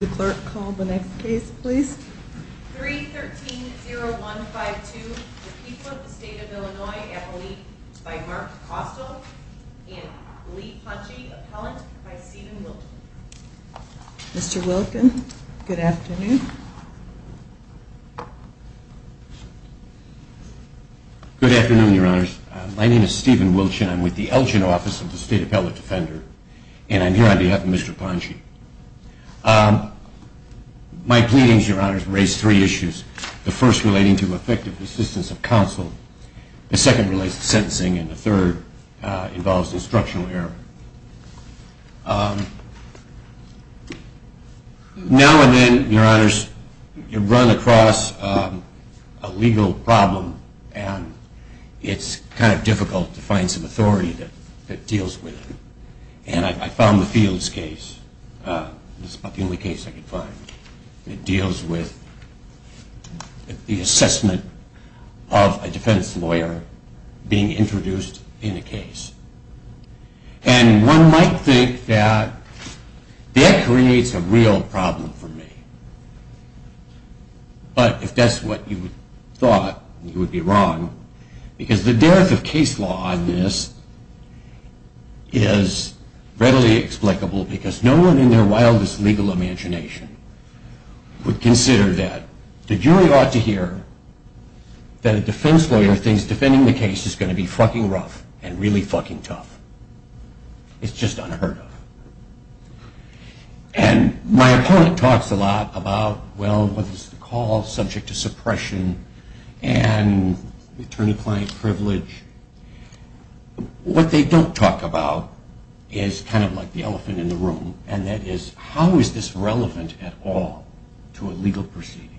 The clerk call the next case please. 313-0152, the people of the state of Illinois, by Mark Costle and Lee Ponshe, appellant by Steven Wilkin. Mr. Wilkin, good afternoon. Good afternoon, your honors. My name is Steven Wilkin. I'm with the Elgin Office of the State Appellate Defender and I'm here on behalf of Mr. Ponshe. My pleadings, your honors, raise three issues. The first relating to effective assistance of counsel, the second relates to sentencing, and the third involves instructional error. Now and then, your honors, you run across a legal problem and it's kind of difficult to find some authority that deals with it. And I found the Fields case, it's about the only case I could find, that deals with the assessment of a defense lawyer being introduced in a case. And one might think that that creates a real problem for me. But if that's what you thought, you would be wrong, because the dearth of case law on this is readily explicable because no one in their wildest legal imagination would consider that. The jury ought to hear that a defense lawyer thinks defending the case is going to be fucking rough and really fucking tough. It's just unheard of. And my opponent talks a lot about, well, what is the call subject to suppression and attorney-client privilege. What they don't talk about is kind of like the elephant in the room, and that is how is this relevant at all to a legal proceeding?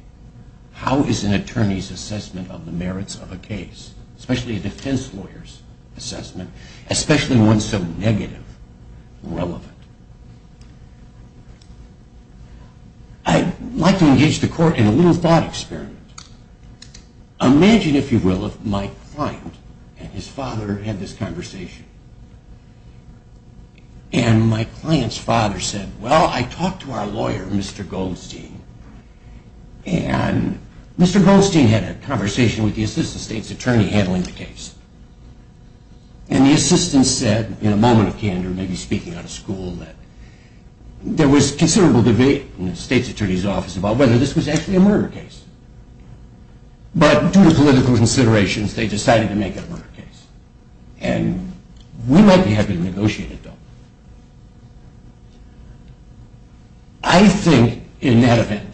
How is an attorney's assessment of the merits of a case, especially a defense lawyer's assessment, especially one so negative, relevant? I'd like to engage the court in a little thought experiment. Imagine, if you will, if my client and his father had this conversation. And my client's father said, well, I talked to our lawyer, Mr. Goldstein. And Mr. Goldstein had a conversation with the assistant state's attorney handling the case. And the assistant said, in a moment of candor, maybe speaking out of school, that there was considerable debate in the state's attorney's office about whether this was actually a murder case. But due to political considerations, they decided to make it a murder case. And we might be happy to negotiate it, though. I think, in that event,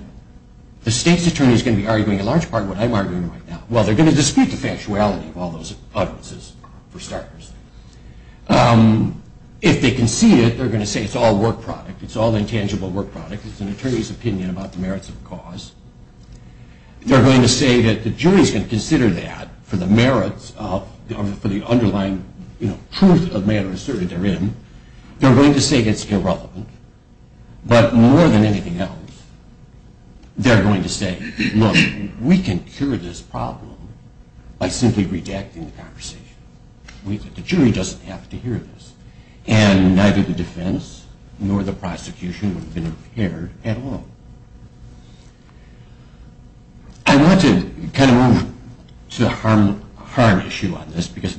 the state's attorney is going to be arguing a large part of what I'm arguing right now. Well, they're going to dispute the factuality of all those utterances, for starters. If they concede it, they're going to say it's all work product. It's all intangible work product. It's an attorney's opinion about the merits of the cause. They're going to say that the jury's going to consider that for the underlying truth of matters asserted therein. They're going to say it's irrelevant. But more than anything else, they're going to say, look, we can cure this problem by simply redacting the conversation. The jury doesn't have to hear this. And neither the defense nor the prosecution would have been impaired at all. I want to kind of move to the harm issue on this because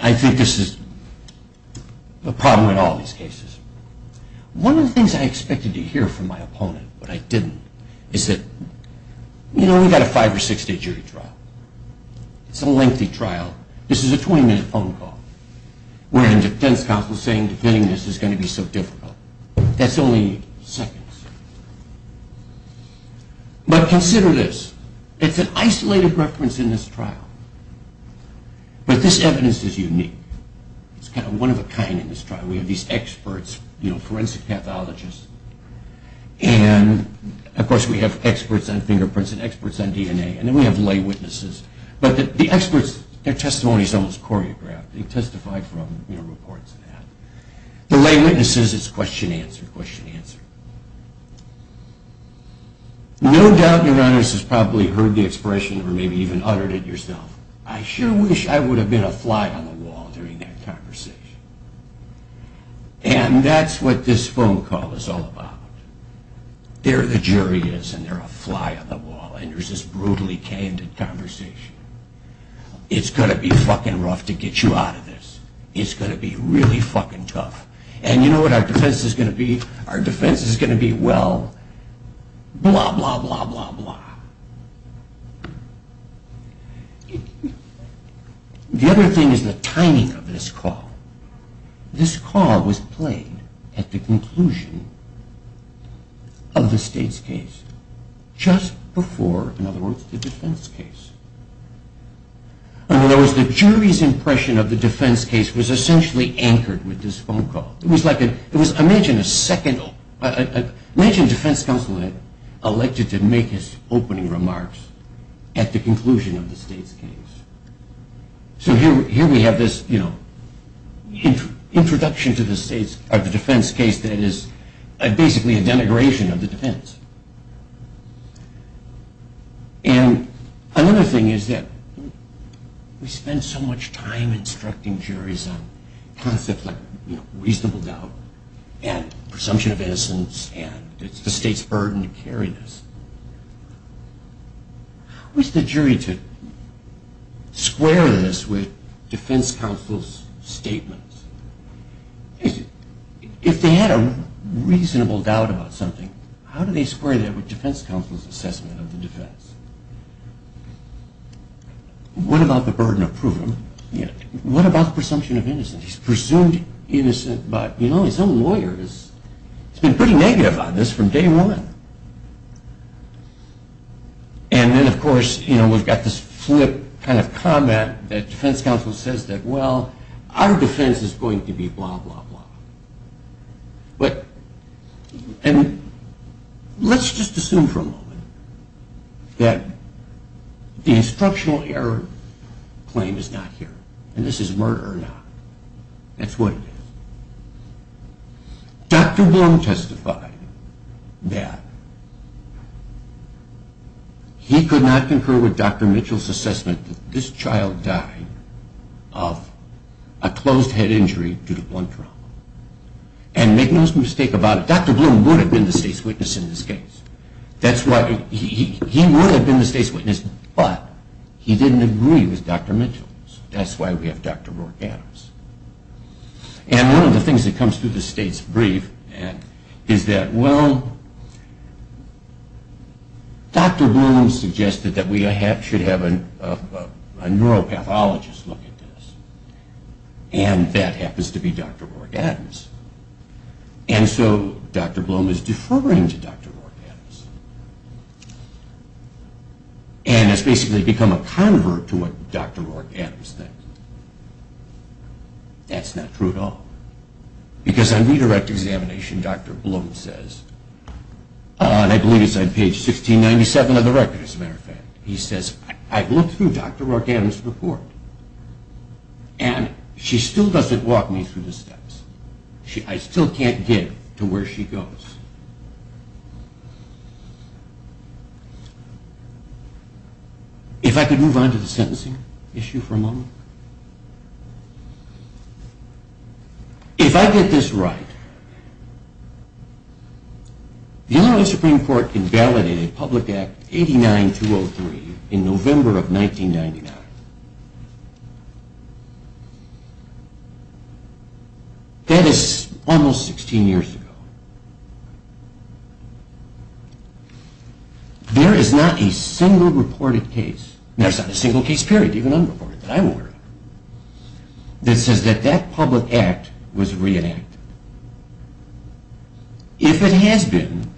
I think this is a problem in all these cases. One of the things I expected to hear from my opponent, but I didn't, is that, you know, we've got a five or six-day jury trial. It's a lengthy trial. This is a 20-minute phone call, where the defense counsel is saying defending this is going to be so difficult. That's only seconds. But consider this. It's an isolated reference in this trial. But this evidence is unique. It's kind of one-of-a-kind in this trial. We have these experts, forensic pathologists, and of course we have experts on fingerprints and experts on DNA. And then we have lay witnesses. But the experts, their testimony is almost choreographed. They testify from reports and that. The lay witnesses, it's question, answer, question, answer. No doubt, your Honor, this is probably heard the expression or maybe even uttered it yourself. I sure wish I would have been a fly on the wall during that conversation. And that's what this phone call is all about. There the jury is and they're a fly on the wall and there's this brutally candid conversation. It's going to be fucking rough to get you out of this. It's going to be really fucking tough. And you know what our defense is going to be? Our defense is going to be, well, blah, blah, blah, blah, blah. The other thing is the timing of this call. This call was played at the conclusion of the state's case, just before, in other words, the defense case. In other words, the jury's impression of the defense case was essentially anchored with this phone call. It was like, imagine a second, imagine defense counsel had elected to make his opening remarks at the conclusion of the state's case. So here we have this introduction to the defense case that is basically a denigration of the defense. And another thing is that we spend so much time instructing juries on concepts like reasonable doubt and presumption of innocence and it's the state's burden to carry this. How is the jury to square this with defense counsel's statements? If they had a reasonable doubt about something, how do they square that with defense counsel's assessment of the defense? What about the burden of proof? What about presumption of innocence? He's presumed innocent by, you know, his own lawyers. He's been pretty negative on this from day one. And then of course, you know, we've got this flip kind of comment that defense counsel says that, well, our defense is going to be blah, blah, blah. And let's just assume for a moment that the instructional error claim is not here and this is murder or not. That's what it is. Dr. Bloom testified that he could not concur with Dr. Mitchell's assessment that this child died of a closed head injury due to blunt trauma. And make no mistake about it, Dr. Bloom would have been the state's witness in this case. That's why he would have been the state's witness, but he didn't agree with Dr. Mitchell. That's why we have Dr. Morganis. And one of the things that comes through the state's brief is that, well, Dr. Bloom suggested that we should have a neuropathologist look at this. And that happens to be Dr. Org Adams. And so Dr. Bloom is deferring to Dr. Org Adams. And has basically become a convert to what Dr. Org Adams thinks. That's not true at all. Because on redirect examination, Dr. Bloom says, and I believe it's on page 1697 of the record as a matter of fact, he says, I've looked through Dr. Org Adams' report and she still doesn't walk me through the steps. I still can't get to where she goes. If I could move on to the sentencing issue for a moment. If I get this right, the Illinois Supreme Court invalidated Public Act 89-203 in November of 1999. That is almost 16 years ago. There is not a single reported case, and there's not a single case period even unreported that I'm aware of, that says that that public act was reenacted. If it has been,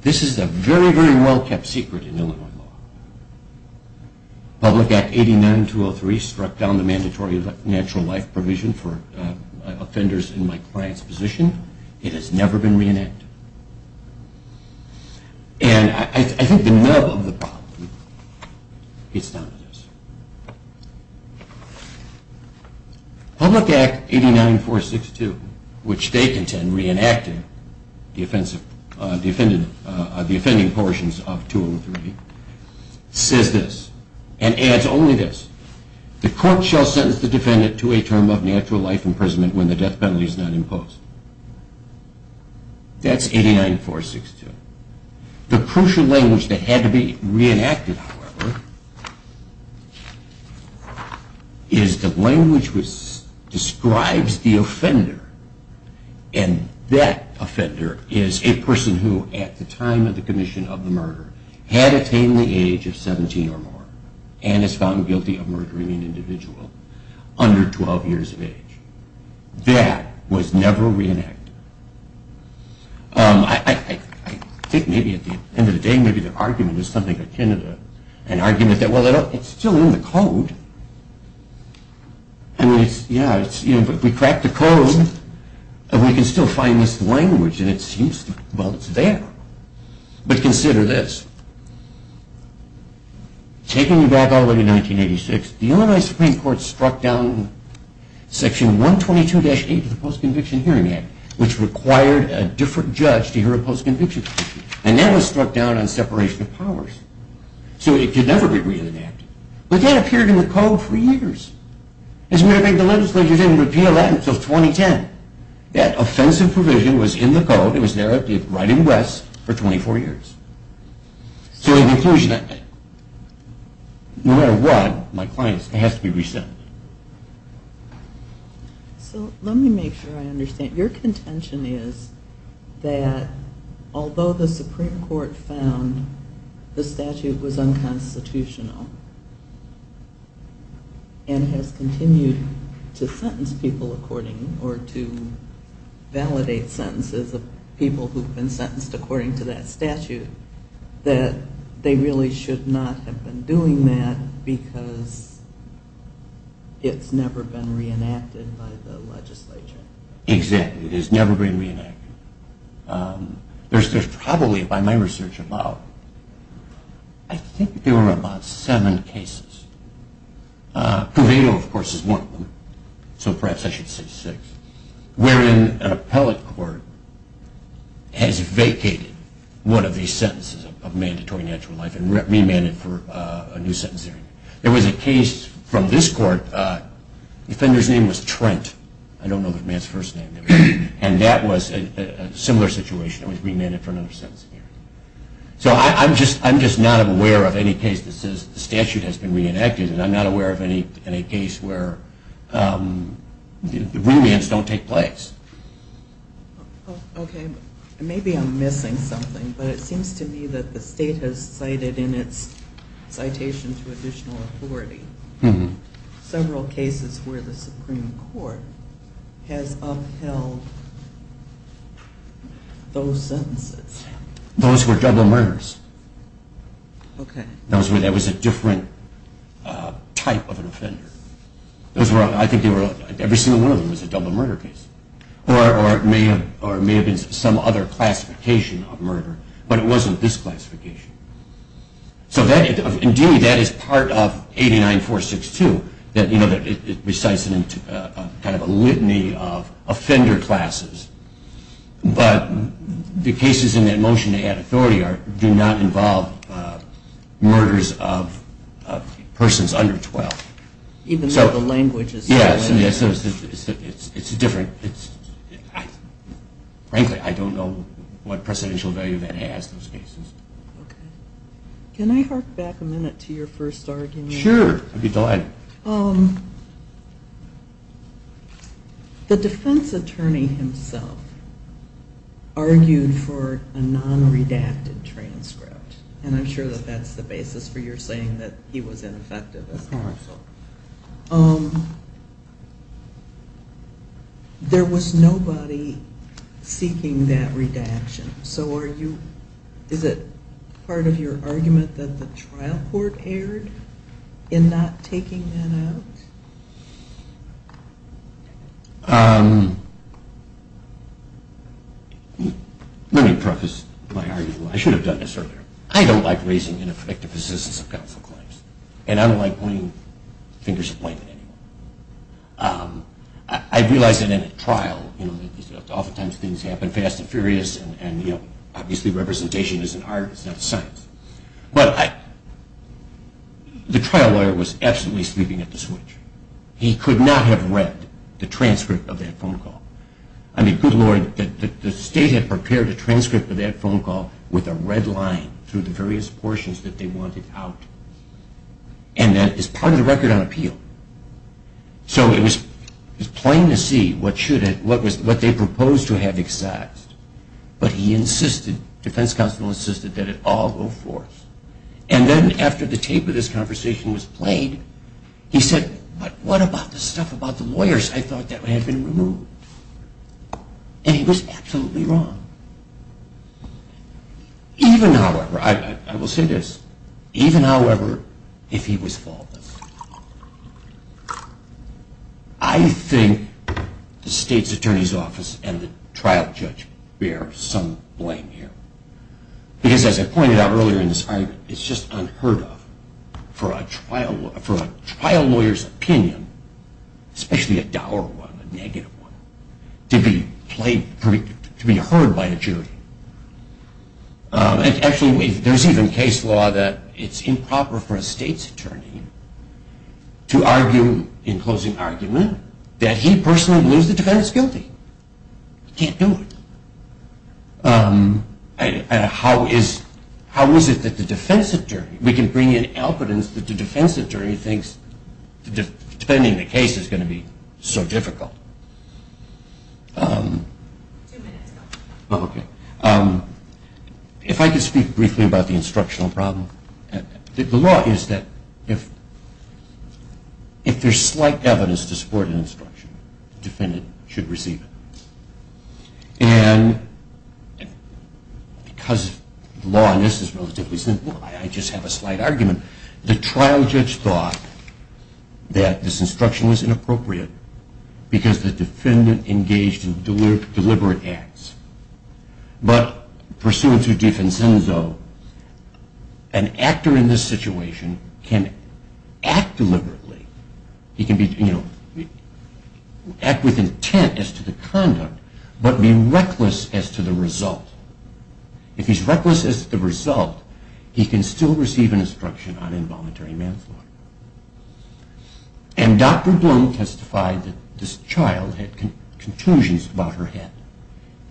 this is a very, very well kept secret in Illinois law. Public Act 89-203 struck down the mandatory natural life provision for offenders in my client's position. It has never been reenacted. And I think the nub of the problem gets down to this. Public Act 89-462, which they contend reenacted the offending portions of 203, says this, and adds only this, the court shall sentence the defendant to a term of natural life imprisonment when the death penalty is not imposed. That's 89-462. The language describes the offender, and that offender is a person who at the time of the commission of the murder had attained the age of 17 or more and is found guilty of murdering an individual under 12 years of age. That was never reenacted. I think maybe at the end of the day, maybe the argument is something akin to an argument that, well, it's still in the code. I mean, yeah, if we crack the code, we can still find this language, and it seems, well, it's there. But consider this. Taking you back all the way to 1986, the Illinois Supreme Court struck down section 122-8 of the Post-Conviction Hearing Act, which required a different judge to hear a post-conviction hearing, and that was struck down on separation of powers. So it could never be reenacted. But that appeared in the code for years. As a matter of fact, the legislature didn't repeal that until 2010. That offensive provision was in the code. It was there right in West for 24 years. So in conclusion, no matter what, my clients, it has to be resent. So let me make sure I understand. Your contention is that although the Supreme Court found the statute was unconstitutional and has continued to sentence people according, or to validate sentences of people who've been sentenced according to that statute, that they really should not have been doing that because it's never been reenacted by the legislature. Exactly, it has never been reenacted. There's probably, by my research, about, I think there were about seven cases. Puevito, of course, is one of them, so perhaps I should say six, wherein an appellate court has vacated one of these sentences of mandatory natural life and remanded for a new sentence hearing. There was a case from this court, the defender's name was Trent. I don't know the man's first name. And that was a similar situation. It was remanded for another sentence hearing. So I'm just not aware of any case that says the statute has been reenacted and I'm not aware of any case where remands don't take place. Okay, maybe I'm missing something, but it seems to me that the state has cited in its citation to additional authority several cases where the Supreme Court has upheld those sentences. Those were double murders. Okay. That was a different type of an offender. I think every single one of them was a double murder case. Or it may have been some other classification of murder, but it wasn't this classification. So, indeed, that is part of 89462, that it recites kind of a litany of offender classes. But the cases in that motion to add authority do not involve murders of persons under 12. Even though the language is different. Yes, it's different. Frankly, I don't know what precedential value that has, those cases. Okay. Can I hark back a minute to your first argument? Sure, I'd be delighted. The defense attorney himself argued for a non-redacted transcript, and I'm sure that that's the basis for your saying that he was ineffective as counsel. Of course. There was nobody seeking that redaction. So is it part of your argument that the trial court erred in not taking that out? Let me preface my argument. I should have done this earlier. I don't like raising ineffective assistance of counsel claims. And I don't like pointing fingers at blame anymore. I realize that in a trial, oftentimes things happen fast and furious, and obviously representation is an art, it's not a science. But the trial lawyer was absolutely sleeping at the switch. He could not have read the transcript of that phone call. I mean, good Lord, the state had prepared a transcript of that phone call with a red line through the various portions that they wanted out. And that is part of the record on appeal. So it was plain to see what they proposed to have excised. But he insisted, defense counsel insisted, that it all go forth. And then after the tape of this conversation was played, he said, what about the stuff about the lawyers? I thought that had been removed. And he was absolutely wrong. Even, however, I will say this, even, however, if he was faultless, I think the state's attorney's office and the trial judge bear some blame here. Because as I pointed out earlier in this argument, it's just unheard of for a trial lawyer's opinion, especially a dour one, a negative one, to be heard by a jury. Actually, there's even case law that it's improper for a state's attorney to argue in closing argument that he personally believes the defendant's guilty. He can't do it. How is it that the defense attorney, we can bring in evidence that the defense attorney thinks defending the case is going to be so difficult. If I could speak briefly about the instructional problem. The law is that if there's slight evidence to support an instruction, the defendant should receive it. And because law on this is relatively simple, I just have a slight argument. The trial judge thought that this instruction was inappropriate because the defendant engaged in deliberate acts. But pursuant to defenso, an actor in this situation can act deliberately. He can act with intent as to the conduct, but be reckless as to the result. If he's reckless as to the result, he can still receive an instruction on involuntary manslaughter. And Dr. Bloom testified that this child had conclusions about her head.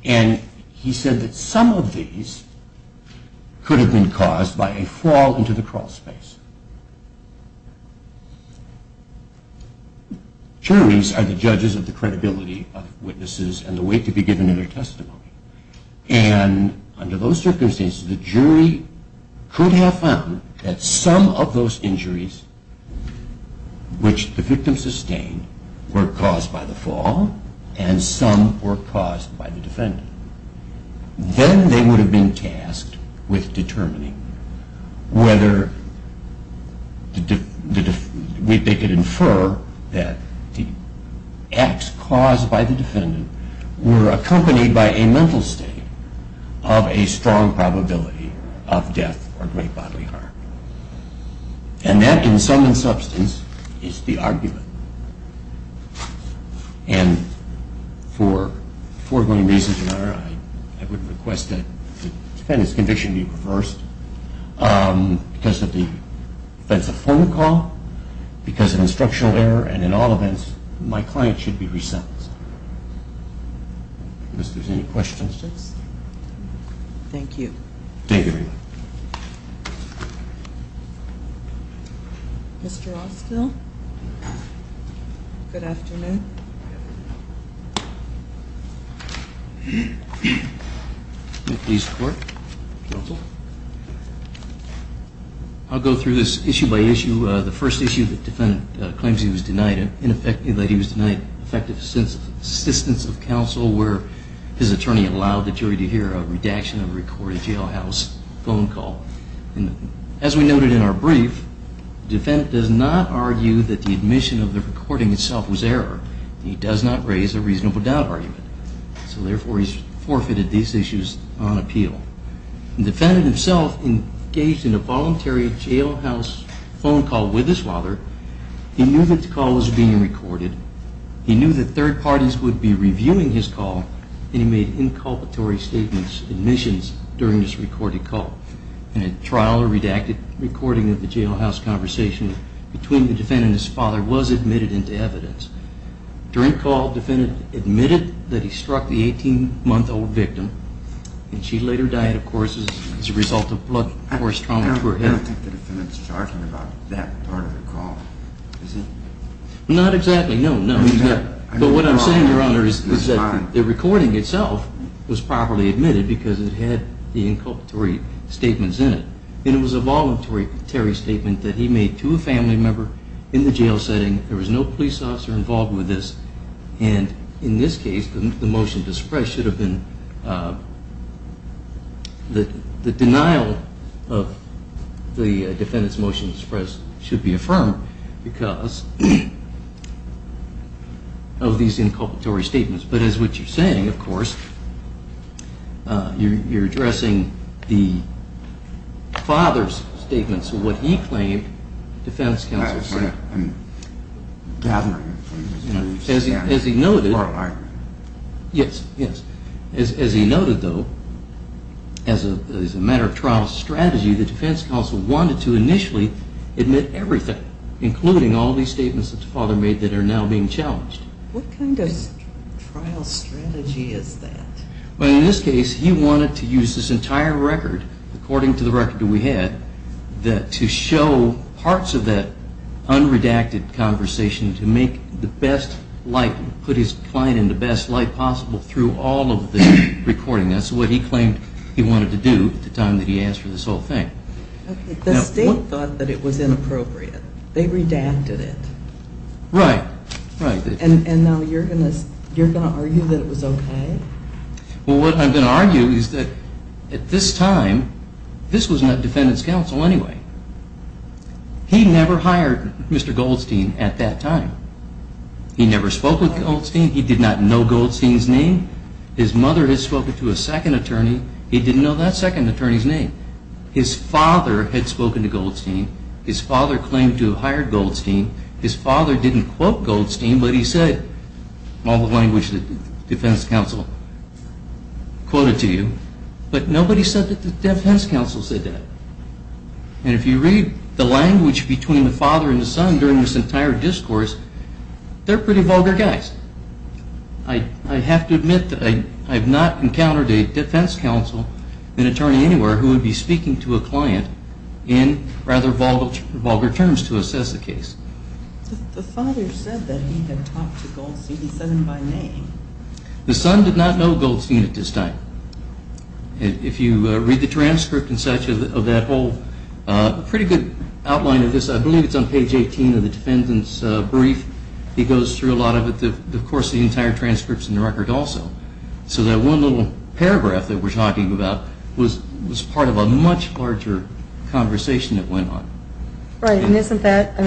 And he said that some of these could have been caused by a fall into the crawl space. Juries are the judges of the credibility of witnesses and the weight to be given in their testimony. And under those circumstances, the jury could have found that some of those injuries which the victim sustained were caused by the fall and some were caused by the defendant. Then they would have been tasked with determining whether they could infer that the acts caused by the defendant were accompanied by a mental state of a strong probability of death or great bodily harm. And that, in sum and substance, is the argument. And for foregoing reasons, Your Honor, I would request that the defendant's conviction be reversed. Because of the offensive phone call, because of instructional error, and in all events, my client should be re-sentenced. If there's any questions. Thank you. Thank you, everyone. Mr. Austell. Good afternoon. May it please the Court. Counsel. I'll go through this issue by issue. The first issue, the defendant claims he was denied, in effect, that he was denied effective assistance of counsel where his attorney allowed the jury to hear a redaction of a recorded jailhouse phone call. And as we noted in our brief, the defendant does not argue that the admission of the recording itself was error. He does not raise a reasonable doubt argument. So, therefore, he's forfeited these issues on appeal. The defendant himself engaged in a voluntary jailhouse phone call with his father. He knew that the call was being recorded. He knew that third parties would be reviewing his call. And he made inculpatory statements, admissions, during this recorded call. In a trial, a redacted recording of the jailhouse conversation between the defendant and his father was admitted into evidence. During call, the defendant admitted that he struck the 18-month-old victim, and she later died, of course, as a result of blood, force trauma to her head. I don't think the defendant's talking about that part of the call. Is he? Not exactly. No, no. But what I'm saying, Your Honor, is that the recording itself was properly admitted because it had the inculpatory statements in it. And it was a voluntary statement that he made to a family member in the jail setting. There was no police officer involved with this. And in this case, the motion to suppress should have been the denial of the defendant's motion to suppress should be affirmed because of these inculpatory statements. But as what you're saying, of course, you're addressing the father's statements of what he claimed the defense counsel said. That's right. As he noted, though, as a matter of trial strategy, the defense counsel wanted to initially admit everything, including all these statements that the father made that are now being challenged. What kind of trial strategy is that? Well, in this case, he wanted to use this entire record, according to the record that we had, to show parts of that unredacted conversation to make the best light, put his client in the best light possible through all of the recording. That's what he claimed he wanted to do at the time that he asked for this whole thing. The state thought that it was inappropriate. They redacted it. Right. And now you're going to argue that it was okay? Well, what I'm going to argue is that at this time, this was the defendant's counsel anyway. He never hired Mr. Goldstein at that time. He never spoke with Goldstein. He did not know Goldstein's name. His mother had spoken to a second attorney. He didn't know that second attorney's name. His father had spoken to Goldstein. His father claimed to have hired Goldstein. His father didn't quote Goldstein, but he said all the language that the defense counsel quoted to you. But nobody said that the defense counsel said that. And if you read the language between the father and the son during this entire discourse, they're pretty vulgar guys. I have to admit that I have not encountered a defense counsel, an attorney anywhere, who would be speaking to a client in rather vulgar terms to assess the case. The father said that he had talked to Goldstein. He said him by name. The son did not know Goldstein at this time. If you read the transcript and such of that whole pretty good outline of this, I believe it's on page 18 of the defendant's brief. He goes through a lot of it. Of course, the entire transcript's in the record also. So that one little paragraph that we're talking about was part of a much larger conversation that went on. Right. And isn't that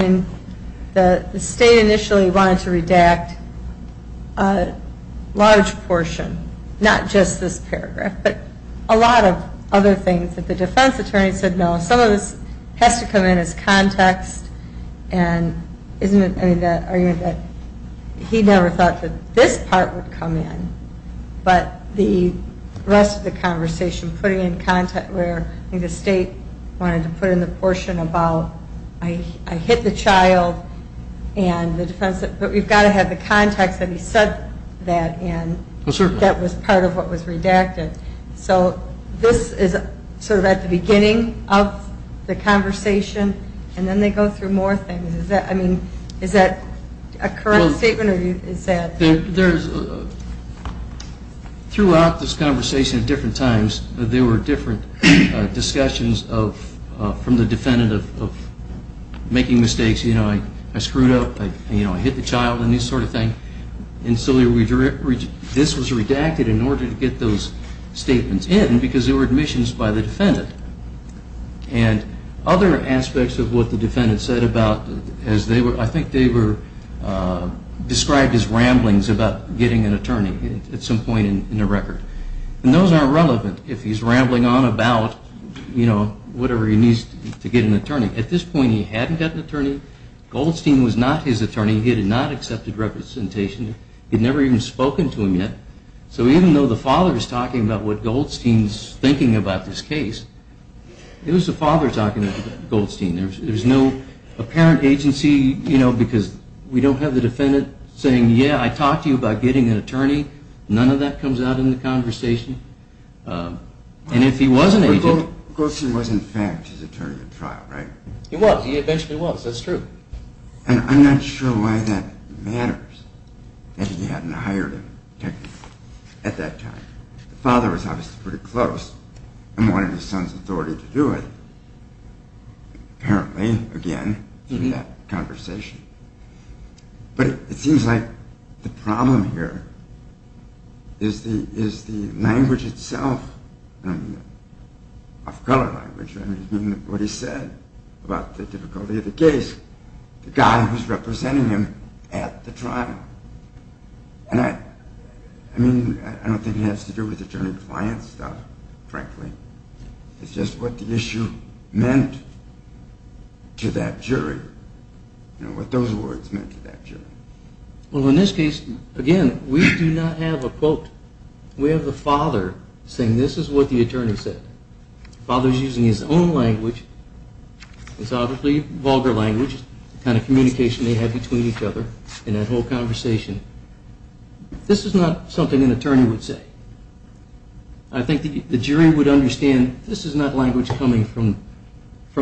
the state initially wanted to redact a large portion, not just this paragraph, but a lot of other things that the defense attorney said no. Some of this has to come in as context. And isn't it the argument that he never thought that this part would come in, but the rest of the conversation putting in context where I think the state wanted to put in the portion about, I hit the child and the defense, but we've got to have the context that he said that in. Well, certainly. That was part of what was redacted. So this is sort of at the beginning of the conversation, and then they go through more things. I mean, is that a correct statement or is that? Throughout this conversation at different times there were different discussions from the defendant of making mistakes. You know, I screwed up. I hit the child and this sort of thing. And so this was redacted in order to get those statements in because they were admissions by the defendant. And other aspects of what the defendant said about, I think they were described as ramblings about getting an attorney at some point in the record. And those aren't relevant if he's rambling on about, you know, whatever he needs to get an attorney. At this point he hadn't got an attorney. Goldstein was not his attorney. He had not accepted representation. He had never even spoken to him yet. So even though the father is talking about what Goldstein's thinking about this case, it was the father talking to Goldstein. There's no apparent agency, you know, because we don't have the defendant saying, yeah, I talked to you about getting an attorney. None of that comes out in the conversation. And if he was an agent. Goldstein was, in fact, his attorney at trial, right? He was. He eventually was. That's true. And I'm not sure why that matters that he hadn't hired him technically at that time. The father was obviously pretty close and wanted his son's authority to do it. Apparently, again, in that conversation. But it seems like the problem here is the language itself, of color language, I mean, what he said about the difficulty of the case. The guy who's representing him at the trial. And I mean, I don't think it has to do with attorney-to-client stuff, frankly. It's just what the issue meant to that jury. You know, what those words meant to that jury. Well, in this case, again, we do not have a quote. We have the father saying this is what the attorney said. The father's using his own language. It's obviously vulgar language, the kind of communication they had between each other in that whole conversation. This is not something an attorney would say. I think the jury would understand this is not language coming from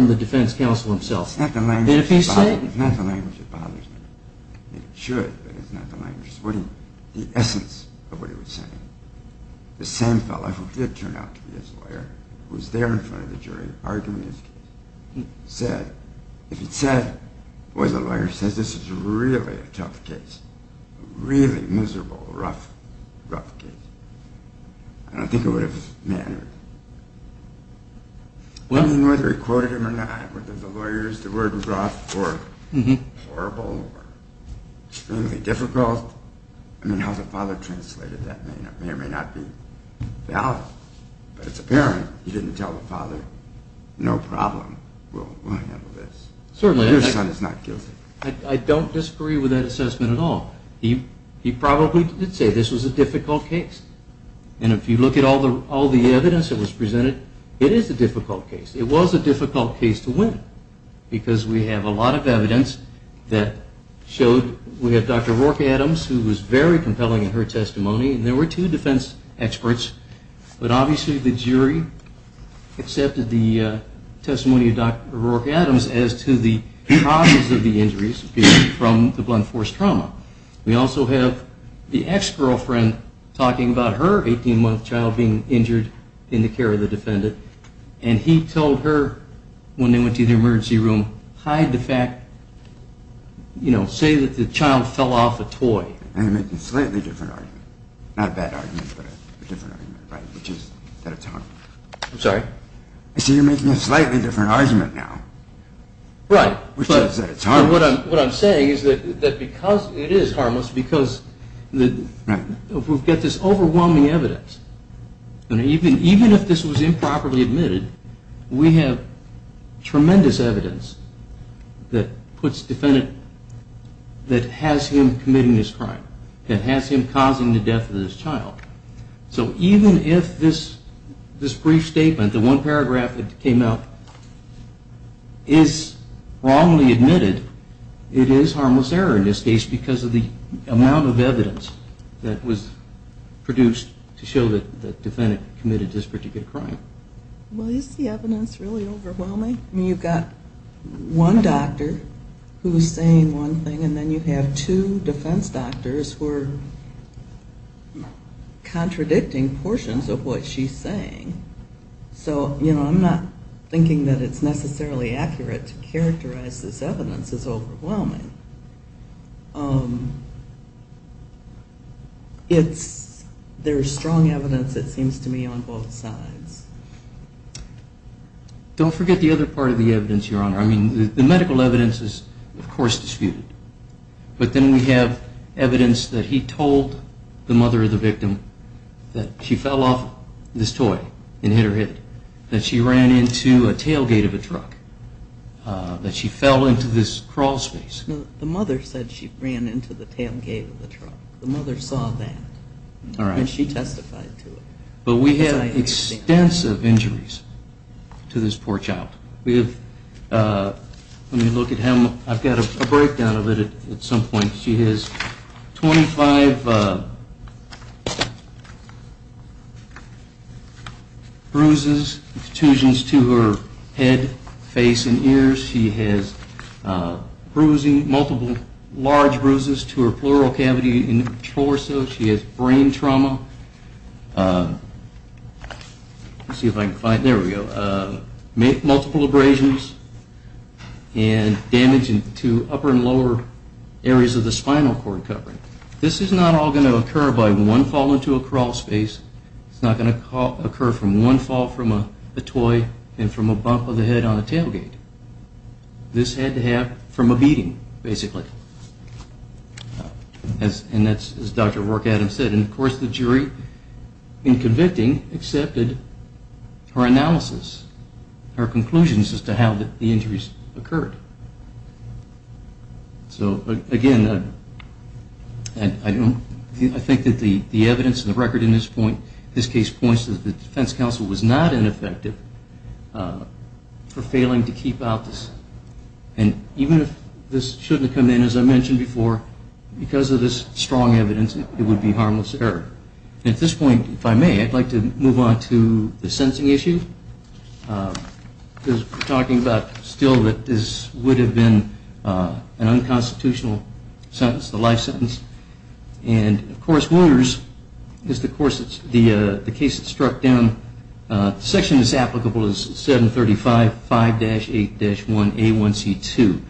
the defense counsel himself. It's not the language that bothers me. It should, but it's not the language. The essence of what he was saying. The same fellow, who did turn out to be his lawyer, was there in front of the jury arguing his case. He said, if he'd said, well, the lawyer says this is really a tough case, really miserable, rough, rough case. I don't think it would have mattered. I mean, whether he quoted him or not, whether the lawyers, the word was rough or horrible or extremely difficult. I mean, how the father translated that may or may not be valid. But it's apparent he didn't tell the father, no problem, we'll handle this. Certainly. Your son is not guilty. I don't disagree with that assessment at all. He probably did say this was a difficult case. And if you look at all the evidence that was presented, it is a difficult case. It was a difficult case to win, because we have a lot of evidence that showed. We have Dr. Rourke Adams, who was very compelling in her testimony, and there were two defense experts. But obviously the jury accepted the testimony of Dr. Rourke Adams as to the causes of the injuries from the blunt force trauma. We also have the ex-girlfriend talking about her 18-month child being injured in the care of the defendant. And he told her when they went to the emergency room, hide the fact, you know, say that the child fell off a toy. You're making a slightly different argument. Not a bad argument, but a different argument, which is that it's horrible. I'm sorry? I said you're making a slightly different argument now. Right. Which is that it's horrible. What I'm saying is that because it is harmless, because we've got this overwhelming evidence, and even if this was improperly admitted, we have tremendous evidence that puts the defendant, that has him committing this crime, that has him causing the death of this child. So even if this brief statement, the one paragraph that came out, is wrongly admitted, it is harmless error in this case because of the amount of evidence that was produced to show that the defendant committed this particular crime. Well, is the evidence really overwhelming? I mean, you've got one doctor who's saying one thing, and then you have two defense doctors who are contradicting portions of what she's saying. So, you know, I'm not thinking that it's necessarily accurate to characterize this evidence as overwhelming. There's strong evidence, it seems to me, on both sides. Don't forget the other part of the evidence, Your Honor. I mean, the medical evidence is, of course, disputed. But then we have evidence that he told the mother of the victim that she fell off this toy and hit her head, that she ran into a tailgate of a truck, that she fell into this crawlspace. No, the mother said she ran into the tailgate of the truck. The mother saw that. All right. And she testified to it. But we have extensive injuries to this poor child. Let me look at him. I've got a breakdown of it at some point. She has 25 bruises, extrusions to her head, face, and ears. She has multiple large bruises to her pleural cavity and torso. She has brain trauma. Let's see if I can find it. There we go. Multiple abrasions and damage to upper and lower areas of the spinal cord covering. This is not all going to occur by one fall into a crawlspace. It's not going to occur from one fall from a toy and from a bump of the head on a tailgate. This had to happen from a beating, basically. And that's as Dr. Rourke-Adams said. And, of course, the jury, in convicting, accepted her analysis, her conclusions as to how the injuries occurred. So, again, I think that the evidence and the record in this case points to the defense counsel was not ineffective for failing to keep out this. And even if this shouldn't have come in, as I mentioned before, because of this strong evidence, it would be harmless error. At this point, if I may, I'd like to move on to the sentencing issue. Because we're talking about still that this would have been an unconstitutional sentence, the life sentence. And, of course, Wounders is the case that struck down. The section that's applicable is 735-5-8-1A1C2.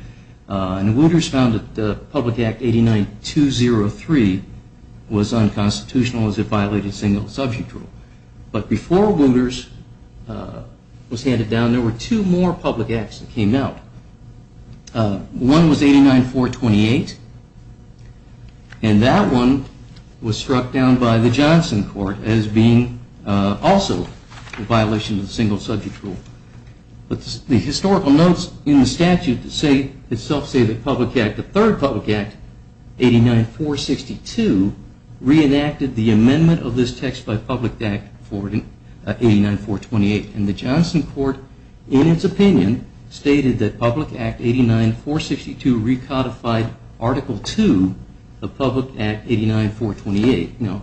And Wounders found that Public Act 89203 was unconstitutional as it violated single subject rule. But before Wounders was handed down, there were two more public acts that came out. One was 89-428, and that one was struck down by the Johnson Court as being also a violation of the single subject rule. But the historical notes in the statute itself say that the third public act, 89-462, reenacted the amendment of this text by Public Act 89428. And the Johnson Court, in its opinion, stated that Public Act 89-462 recodified Article 2 of Public Act 89-428. Now,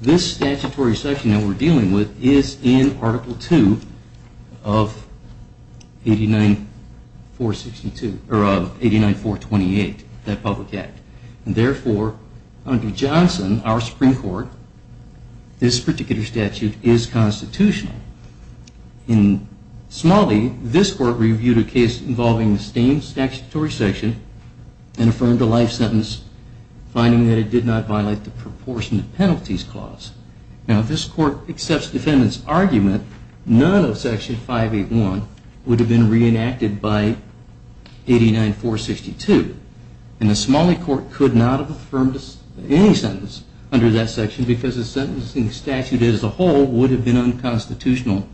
this statutory section that we're dealing with is in Article 2 of 89-428, that public act. And therefore, under Johnson, our Supreme Court, this particular statute is constitutional. In Smalley, this Court reviewed a case involving the same statutory section and affirmed a life sentence, finding that it did not violate the proportionate penalties clause. Now, if this Court accepts the defendant's argument, none of Section 581 would have been reenacted by 89-462. And the Smalley Court could not have affirmed any sentence under that section because the sentencing statute as a whole would have been unconstitutional,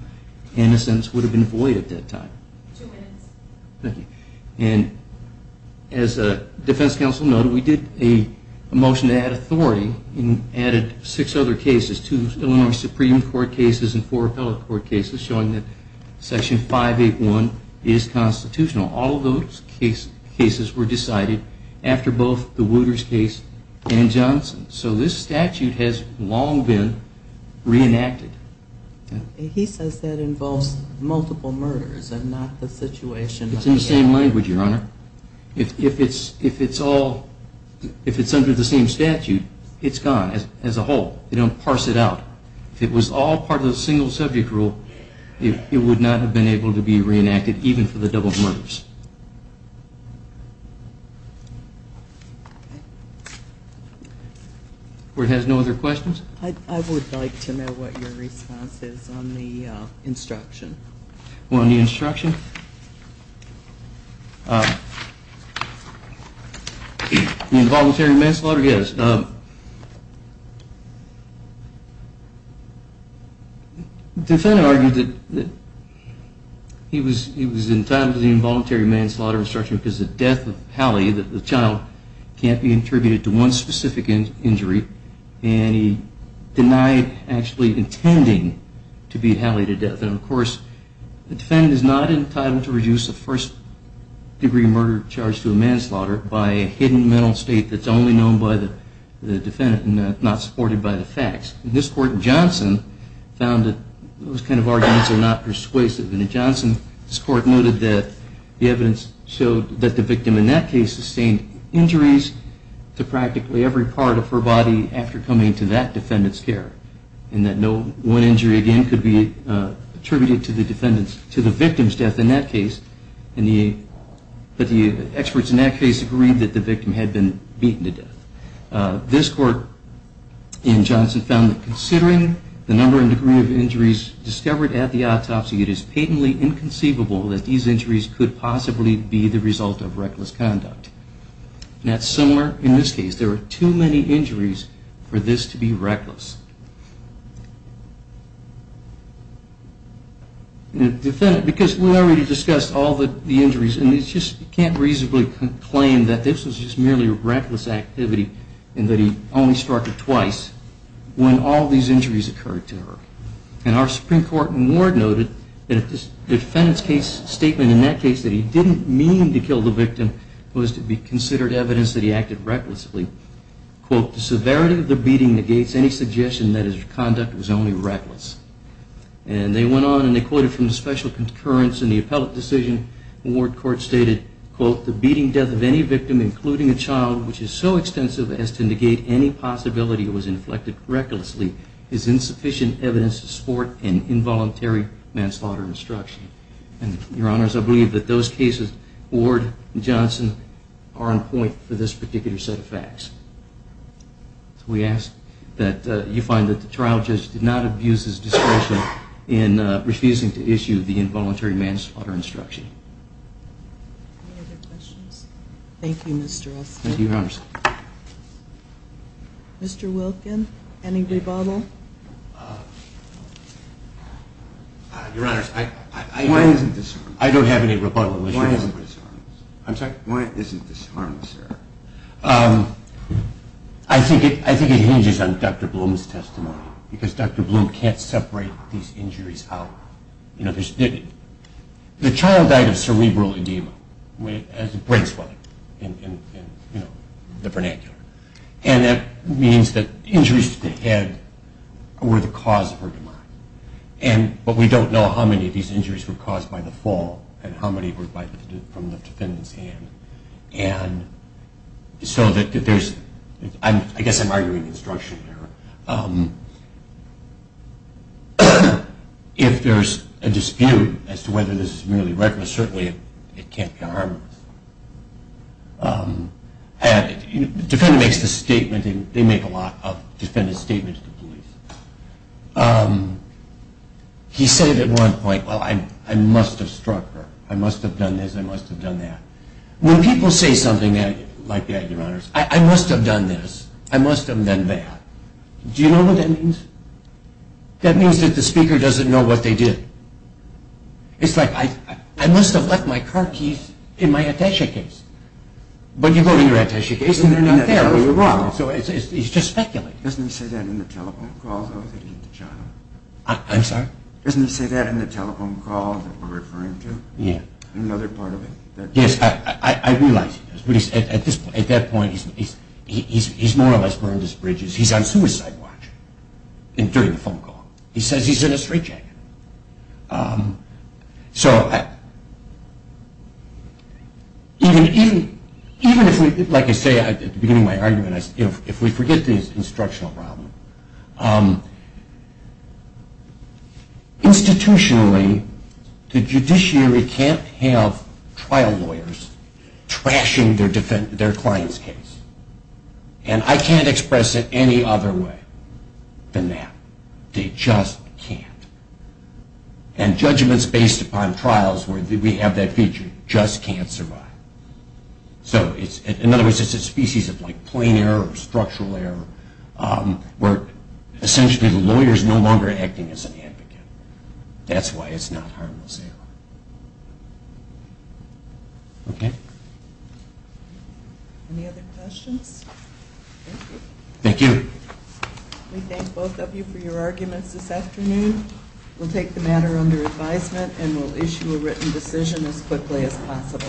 and the sentence would have been void at that time. And as Defense Counsel noted, we did a motion to add authority and added six other cases, two Illinois Supreme Court cases and four appellate court cases, showing that Section 581 is constitutional. All of those cases were decided after both the Wooters case and Johnson. So this statute has long been reenacted. He says that involves multiple murders and not the situation. It's in the same language, Your Honor. If it's under the same statute, it's gone as a whole. They don't parse it out. If it was all part of the single subject rule, it would not have been able to be reenacted, even for the double murders. The Court has no other questions? I would like to know what your response is on the instruction. On the instruction? The involuntary manslaughter? Yes. The defendant argued that he was entitled to the involuntary manslaughter instruction because the death of Hallie, the child, can't be attributed to one specific injury, and he denied actually intending to beat Hallie to death. And of course, the defendant is not entitled to reduce a first-degree murder charge to a manslaughter by a hidden mental state that's only known by the defendant and not supported by the facts. And this Court in Johnson found that those kind of arguments are not persuasive. And in Johnson, this Court noted that the evidence showed that the victim in that case sustained injuries to practically every part of her body after coming to that defendant's care, and that no one injury again could be attributed to the victim's death in that case, but the experts in that case agreed that the victim had been beaten to death. This Court in Johnson found that considering the number and degree of injuries discovered at the autopsy, it is patently inconceivable that these injuries could possibly be the result of reckless conduct. And that's similar in this case. There were too many injuries for this to be reckless. Because we already discussed all the injuries, and you can't reasonably claim that this was just merely reckless activity and that he only struck her twice when all these injuries occurred to her. And our Supreme Court in Ward noted that the defendant's statement in that case that he didn't mean to kill the victim was to be considered evidence that he acted recklessly. Quote, the severity of the beating negates any suggestion that his conduct was only reckless. And they went on, and they quoted from the special concurrence in the appellate decision. Ward Court stated, quote, the beating death of any victim, including a child, which is so extensive as to negate any possibility it was inflected recklessly, is insufficient evidence to support an involuntary manslaughter instruction. And, Your Honors, I believe that those cases, Ward and Johnson, are on point for this particular set of facts. So we ask that you find that the trial judge did not abuse his discretion in refusing to issue the involuntary manslaughter instruction. Any other questions? Thank you, Mr. Estes. Thank you, Your Honors. Mr. Wilkin, any rebuttal? Your Honors, I don't have any rebuttal. Why isn't this harmless? I'm sorry? Why isn't this harmless, sir? I think it hinges on Dr. Bloom's testimony, because Dr. Bloom can't separate these injuries out. The child died of cerebral edema, brain swelling, in the vernacular. And that means that injuries to the head were the cause of her demise. But we don't know how many of these injuries were caused by the fall and how many were from the defendant's hand. And so I guess I'm arguing instruction here. If there's a dispute as to whether this is really reckless, certainly it can't be harmless. The defendant makes a statement, and they make a lot of defendant statements to police. He said it at one point, well, I must have struck her. I must have done this, I must have done that. When people say something like that, Your Honors, I must have done this, I must have done that. Do you know what that means? That means that the speaker doesn't know what they did. It's like, I must have left my car keys in my attaché case. But you go to your attaché case, and they're not there. So he's just speculating. Doesn't he say that in the telephone calls, though, that he hit the child? I'm sorry? Doesn't he say that in the telephone calls that we're referring to? Yeah. In another part of it. Yes, I realize he does. But at that point, he's more or less burned his bridges. He's on suicide watch during the phone call. He says he's in a straitjacket. So even if we, like I say at the beginning of my argument, if we forget the instructional problem, institutionally, the judiciary can't have trial lawyers trashing their client's case. And I can't express it any other way than that. They just can't. And judgments based upon trials where we have that feature just can't survive. So in other words, it's a species of plain error, structural error, where essentially the lawyer is no longer acting as an advocate. That's why it's not harmless error. Okay? Any other questions? Thank you. Thank you. We thank both of you for your arguments this afternoon. We'll take the matter under advisement, and we'll issue a written decision as quickly as possible.